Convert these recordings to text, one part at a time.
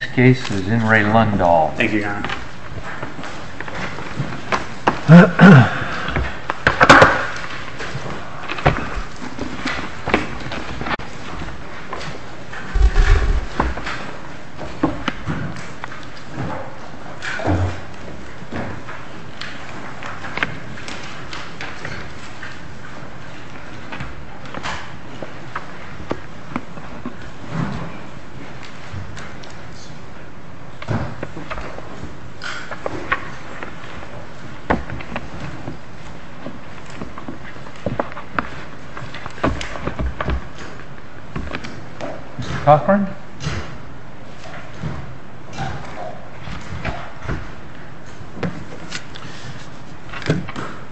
This case is in Re Lundahl. Thank you, your honor.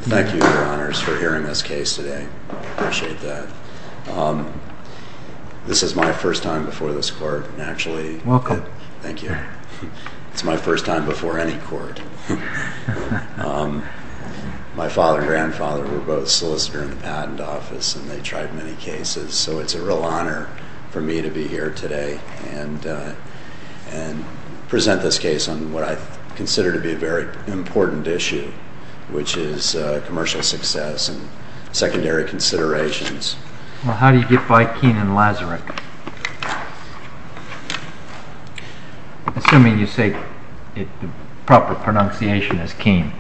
Thank you, your honors, for hearing this case today. I appreciate that. This is my first time before this court, and actually... Welcome. Thank you. It's my first time before any court. My father and grandfather were both solicitors in the patent office, and they tried many cases, so it's a real honor for me to be here today and present this case on what I consider to be a very important issue, which is commercial success and secondary considerations. Well, how do you get by Keene and Lazarick? Assuming you say the proper pronunciation is Keene.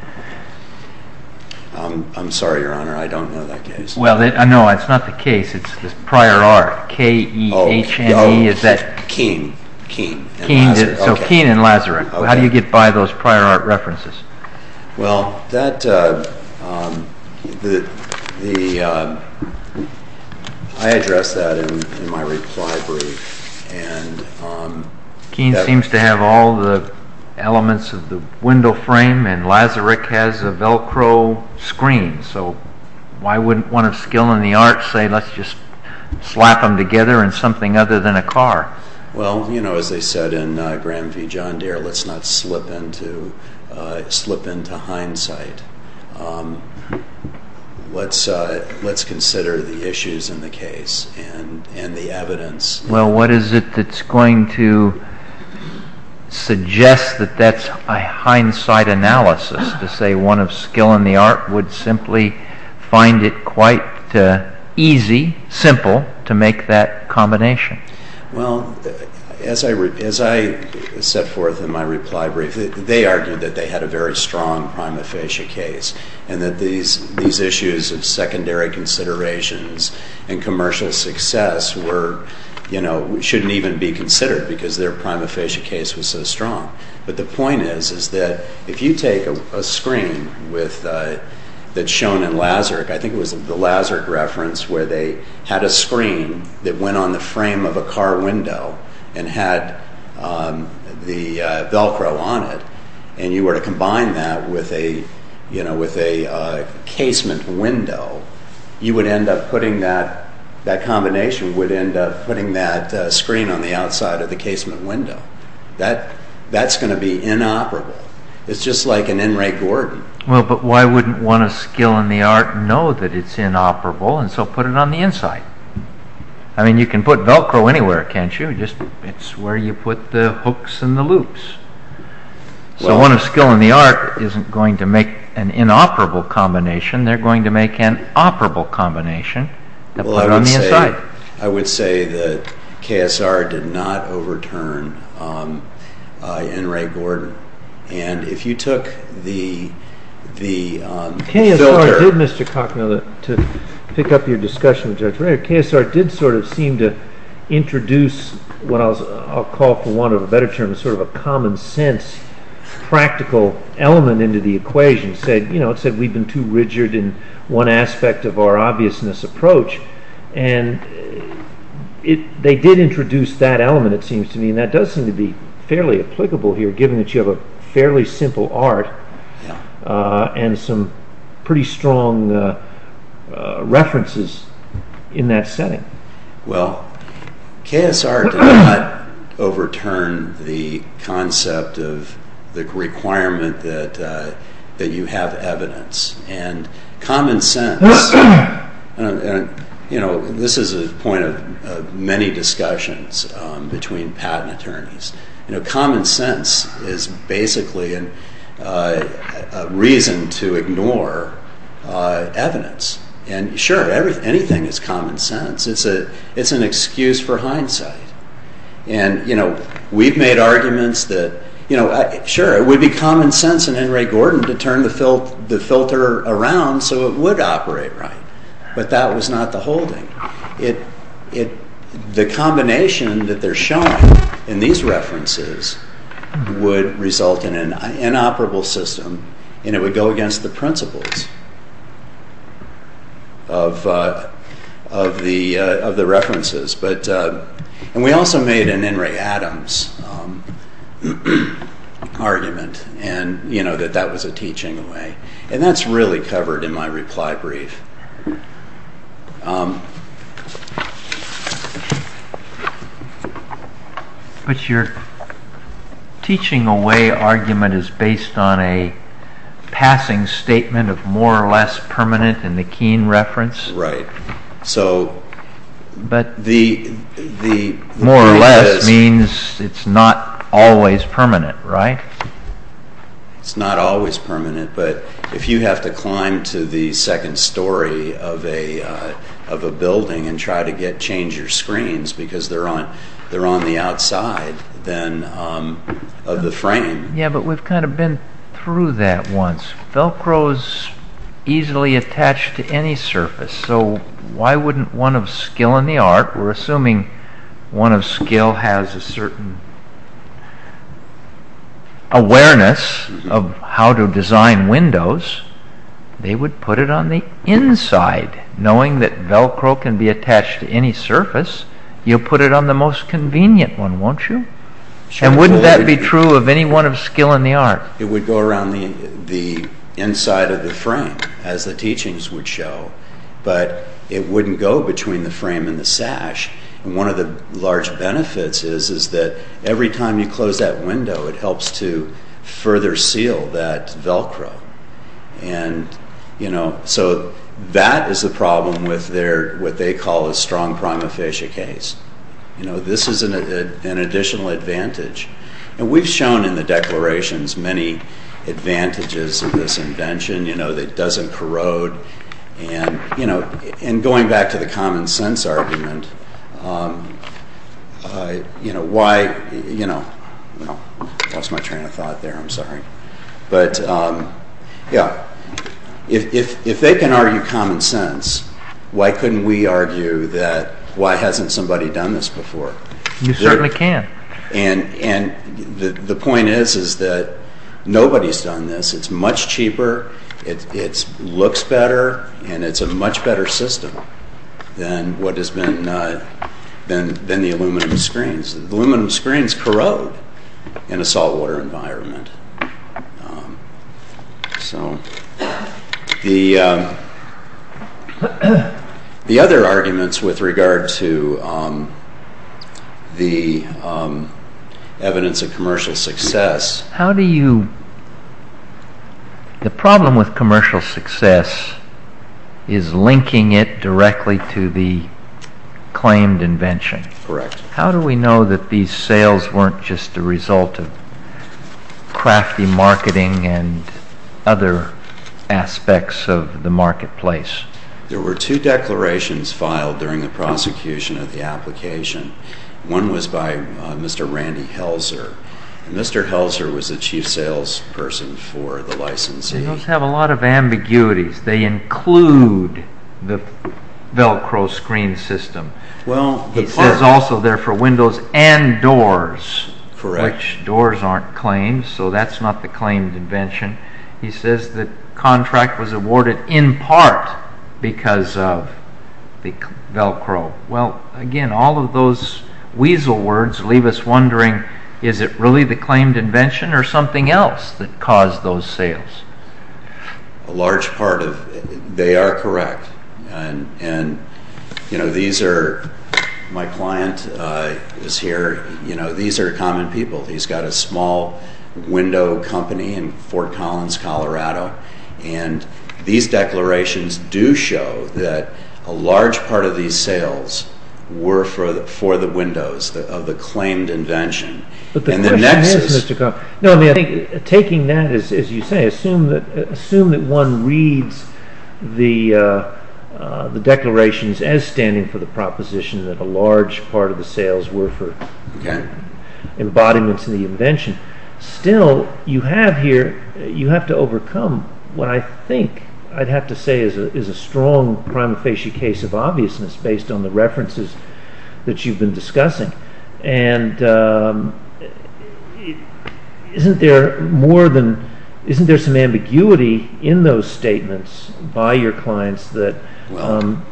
I'm sorry, your honor. I don't know that case. Well, no, it's not the case. It's prior art. K-E-H-N-E is that... Keene. Keene and Lazarick. So Keene and Lazarick. How do you get by those words? I addressed that in my reply brief. Keene seems to have all the elements of the window frame, and Lazarick has a Velcro screen, so why wouldn't one of skill and the art say let's just slap them together in something other than a car? Well, you know, as they said in Graham v. John Deere, let's not slip into hindsight. Let's consider the issues in the case and the evidence. Well, what is it that's going to suggest that that's a hindsight analysis to say one of skill and the art would simply find it quite easy, simple to make that combination? Well, as I set forth in my reply brief, they argued that they had a very strong prima facie case and that these issues of secondary considerations and commercial success shouldn't even be considered because their prima facie case was so strong. But the point is that if you take a screen that's shown in Lazarick, I think it was the Lazarick reference where they had a screen that went on the frame of a car window and had the Velcro on it, and you were to combine that with a casement window, you would end up putting that combination, would end up putting that screen on the outside of the casement window. That's going to be inoperable. It's just like an N. Ray Gordon. Well, but why wouldn't one of skill and the art know that it's inoperable and so put it on the inside? I mean, you can put Velcro anywhere, can't you? It's where you put the hooks and the loops. So one of skill and the art isn't going to make an inoperable combination, they're going to make an operable combination and put it on the inside. I would say that KSR did not overturn N. Ray Gordon. And if you took the filter... KSR did, Mr. Cocknell, to pick up your discussion with introduce what I'll call for want of a better term, sort of a common sense practical element into the equation. It said we've been too rigid in one aspect of our obviousness approach, and they did introduce that element, it seems to me, and that does seem to be fairly applicable here given that you have a fairly simple art and some pretty strong references in that setting. Well, KSR did not overturn the concept of the requirement that you have evidence and common sense. And, you know, this is a point of many discussions between patent attorneys. You know, common sense is basically a reason to ignore evidence. And sure, anything is common sense. It's an excuse for hindsight. And, you know, we've made arguments that, you know, sure, it would be common sense in N. Ray Gordon to turn the filter around so it would operate right, but that was not the holding. The combination that they're showing in these references would result in an inoperable system, and it would go against the principles of the references. And we also made an N. Ray Adams argument, and, you know, that that was a teaching away. And that's really covered in my reply brief. But your teaching away argument is based on a passing statement of more or less permanent in the Keene reference? Right. So more or less means it's not always permanent, right? It's not always permanent, but if you have to climb to the second story of a building and try to change your screens because they're on the outside then of the frame. Yeah, but we've kind of been through that once. Velcro is easily attached to any surface, so why wouldn't one in the art, we're assuming one of skill has a certain awareness of how to design windows, they would put it on the inside, knowing that velcro can be attached to any surface, you'll put it on the most convenient one, won't you? And wouldn't that be true of any one of skill in the art? It would go around the inside of the frame, as the teachings would show, but it wouldn't go between the frame and the sash. And one of the large benefits is that every time you close that window, it helps to further seal that velcro. And, you know, so that is the problem with what they call a strong prima facie case. You know, this is an additional advantage. And we've shown in the declarations many advantages of this invention, you know, it doesn't corrode. And, you know, and going back to the common sense argument, you know, why, you know, lost my train of thought there, I'm sorry. But yeah, if they can argue common sense, why couldn't we argue that why hasn't somebody done this before? You certainly can. And the point is, is that nobody's done this. It's much cheaper, it looks better, and it's a much better system than what has been, than the aluminum screens. Aluminum screens corrode in a saltwater environment. So the other arguments with regard to the evidence of commercial success. How do you, the problem with commercial success is linking it directly to the claimed invention. Correct. How do we know that these sales weren't just a result of crafty marketing and other aspects of the marketplace? There were two declarations filed during the prosecution of the application. One was by Mr. Randy Helzer. Mr. Helzer was the chief sales person for the licensee. Those have a lot of ambiguities. They include the Velcro screen system. He says also they're for windows and doors. Correct. Which doors aren't claims, so that's not the claimed invention. He says the contract was awarded in really the claimed invention or something else that caused those sales? A large part of, they are correct. My client is here, these are common people. He's got a small window company in Fort Collins, Colorado, and these declarations do show that a large part of these sales were for the windows of the claimed invention. But the question is, taking that, as you say, assume that one reads the declarations as standing for the proposition that a large part of the sales were for embodiments in the invention. Still, you have to overcome what I think I'd have to say is a strong prima facie case of obviousness based on the references that you've been discussing. Isn't there some ambiguity in those statements by your clients that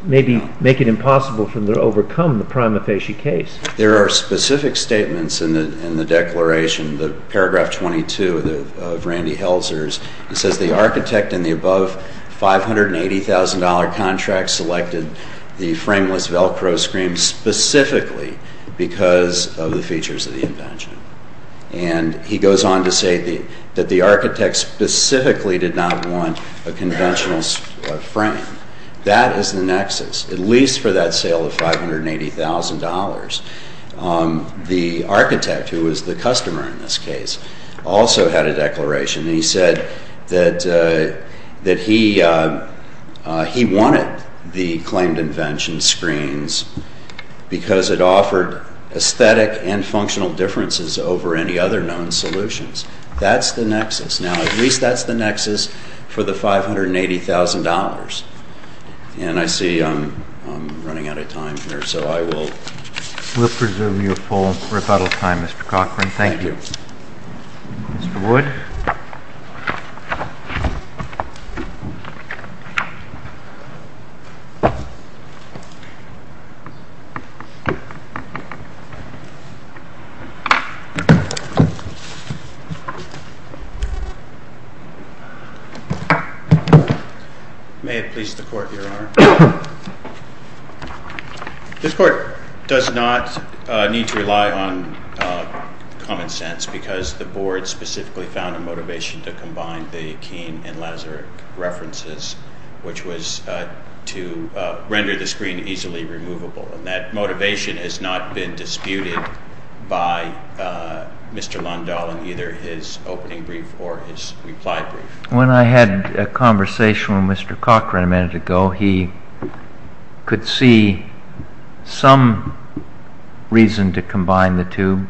maybe make it impossible for them to overcome the prima facie case? There are specific statements in the declaration, paragraph 22 of Randy Helzer's. It says the architect in the above $580,000 contract selected the frameless Velcro screen specifically because of the features of the invention. And he goes on to say that the architect specifically did not want a conventional frame. That is the nexus, at least for that sale of $580,000. The architect, who was the customer in this case, also had a declaration. He said that he wanted the claimed invention screens because it offered aesthetic and functional differences over any other known solutions. That's the nexus. Now, at least that's the nexus for the $580,000. And I see I'm running out of time here, so I will... We'll presume you have full rebuttal time, Mr. Cochran. Thank you. Mr. Wood? May it please the Court, Your Honor. This Court does not need to rely on common sense because the Board specifically found a motivation to combine the Akeem and Lazarek references, which was to render the screen easily removable. And that motivation has not been disputed by Mr. Lundahl in either his opening brief or his reply brief. When I had a conversation with Mr. Cochran a minute ago, he could see some reason to combine the two.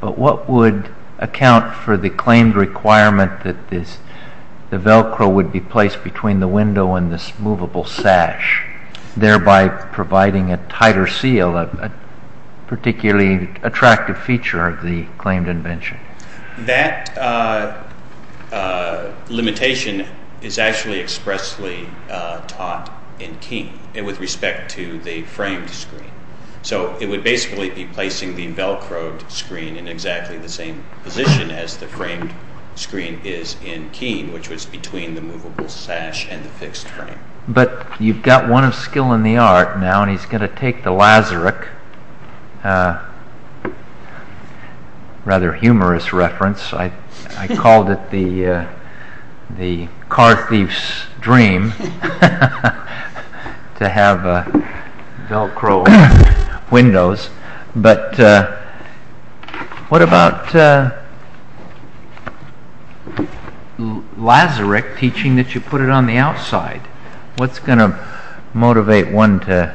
But what would account for the claimed requirement that the Velcro would be placed between the window and this movable sash, thereby providing a tighter seal, a particularly attractive feature of the claimed invention? That limitation is actually expressly taught in Keene with respect to the framed screen. So it would basically be placing the Velcroed screen in exactly the same position as the framed screen is in Keene, which was between the movable sash and the fixed frame. But you've got one of skill in the art now, and he's going to take the Lazarek, a rather humorous reference. I called it the car thief's dream to have Velcroed windows. But what about Lazarek teaching that you put it on the outside? What's going to motivate one to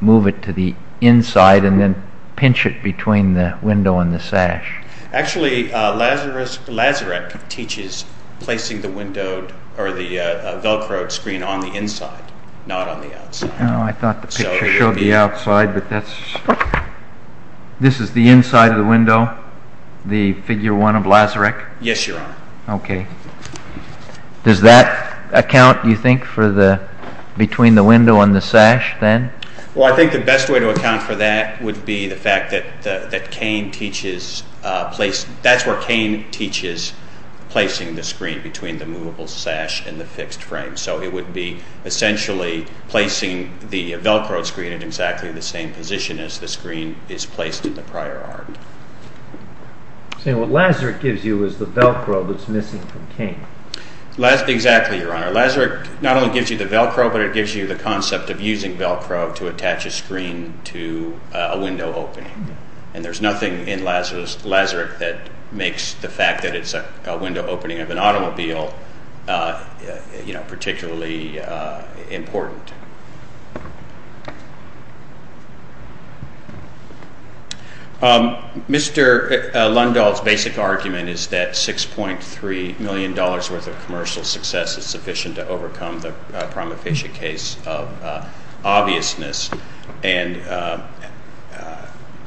move it to the inside and then pinch it between the window and the sash? Actually, Lazarek teaches placing the Velcroed screen on the inside, not on the outside. I thought the picture showed the outside, but that's... This is the inside of the window, the figure one of Lazarek? Yes, Your Honor. Okay. Does that account, you think, for the...between the window and the sash then? Well, I think the best way to account for that would be the fact that Keene teaches...that's where Keene teaches placing the screen between the movable sash and the fixed frame. So it would be essentially placing the Velcroed screen in exactly the same position as the screen is placed in the prior art. So what Lazarek gives you is the Velcro that's missing from Keene. Exactly, Your Honor. Lazarek not only gives you the Velcro, but it gives you the concept of using Velcro to attach a screen to a window opening. And there's nothing in Lazarek that makes the fact that it's a window opening of an automobile particularly important. Mr. Lundahl's basic argument is that $6.3 million worth of commercial success is sufficient to overcome the prima facie case of obviousness. And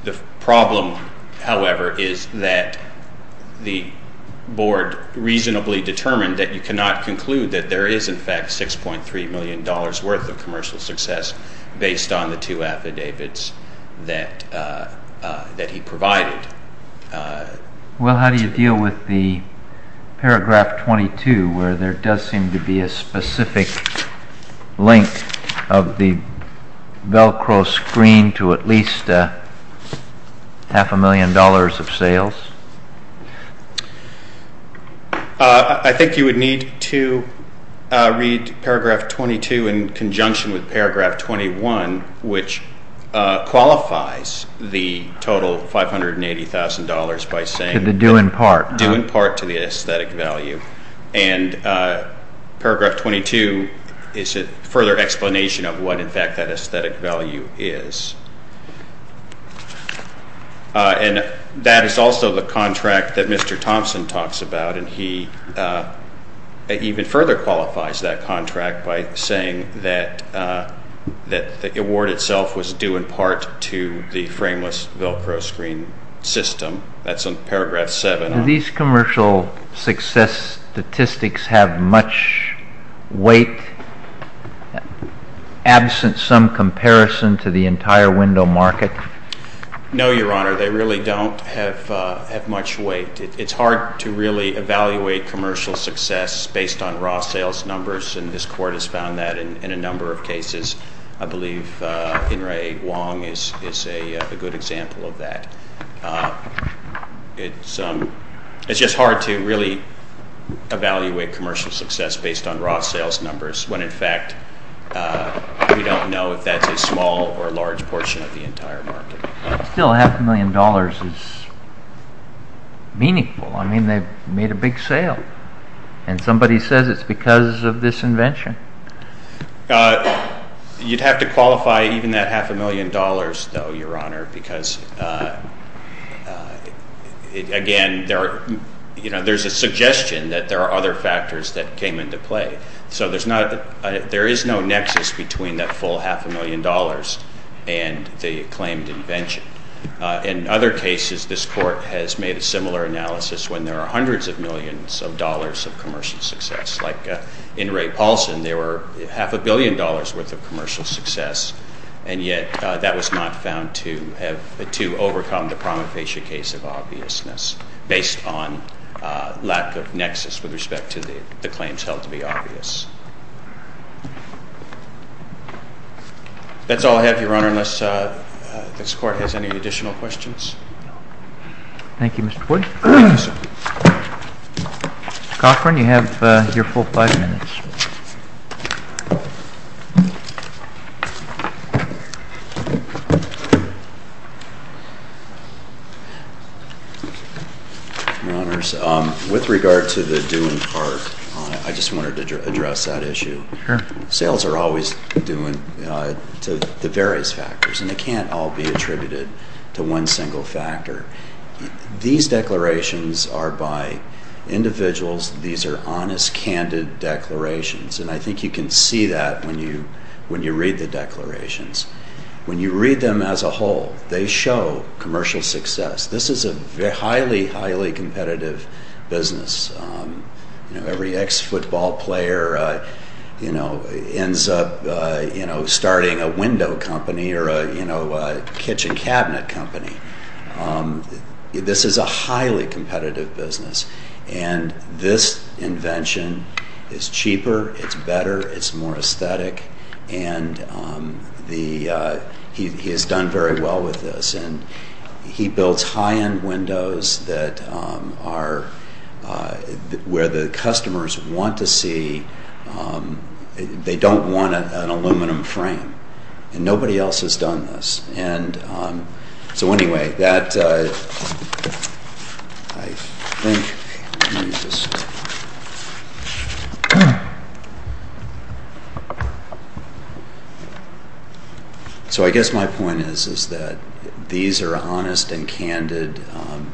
the problem, however, is that the board reasonably determined that you cannot conclude that there is in fact $6.3 million worth of commercial success based on the two affidavits that he provided. Well, how do you deal with the paragraph 22 where there does seem to be a specific link of the Velcro screen to at least half a million dollars of sales? I think you would need to read paragraph 22 in conjunction with paragraph 21, which qualifies the total $580,000 by saying due in part to the aesthetic value. And paragraph 22 is a further explanation of what in fact that aesthetic value is. And that is also the contract that Mr. Thompson talks about, and he even further qualifies that contract by saying that the award itself was due in part to the frameless Velcro screen system. That's in paragraph 7. Do these commercial success statistics have much weight absent some comparison to the entire window market? No, Your Honor. They really don't have much weight. It's hard to really evaluate commercial success based on raw sales numbers, and this Court has found that in a number of cases. I believe In-Rae Wong is a good example of that. It's just hard to really evaluate commercial success based on raw sales numbers when in fact we don't know if that's a small or large portion of the entire market. Still, half a million dollars is meaningful. I mean, they've made a big sale, and somebody says it's because of this invention. You'd have to qualify even that half a million dollars, though, Your Honor, because again, there's a suggestion that there are other factors that came into play. So there is no nexus between that full half a million dollars and the claimed invention. In other cases, this Court has made a similar analysis when there are hundreds of millions of dollars of commercial success. Like In-Rae Paulson, there were half a billion dollars' worth of commercial success, and yet that was not found to have to overcome the promofacia case of obviousness based on lack of nexus with respect to the claims held to be obvious. That's all I have, Your Honor, unless this Court has any additional questions. Thank you, Mr. Boyd. Mr. Cochran, you have your full five minutes. Your Honors, with regard to the doing part, I just wanted to address that issue. Sure. Sales are always doing to the various factors, and they can't all be attributed to one single factor. These declarations are by individuals. These are honest, candid declarations, and I think you can see that when you read the declarations. When you read them as a whole, they show commercial success. This is a highly, highly competitive business. Every ex-football player ends up starting a window company or a kitchen cabinet company. This is a highly competitive business, and this invention is cheaper. It's better. It's more aesthetic, and he has done very well with this. He builds high-end windows where the customers don't want an aluminum frame, and nobody else has done this. And so anyway, that, I think, so I guess my point is that these are honest and candid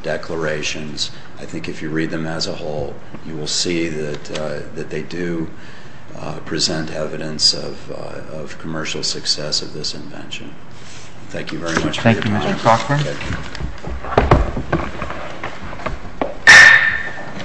declarations. I think if you read them as a whole, you will see that they do present evidence of commercial success of this invention. Thank you very much. Thank you, Mr. Cochran.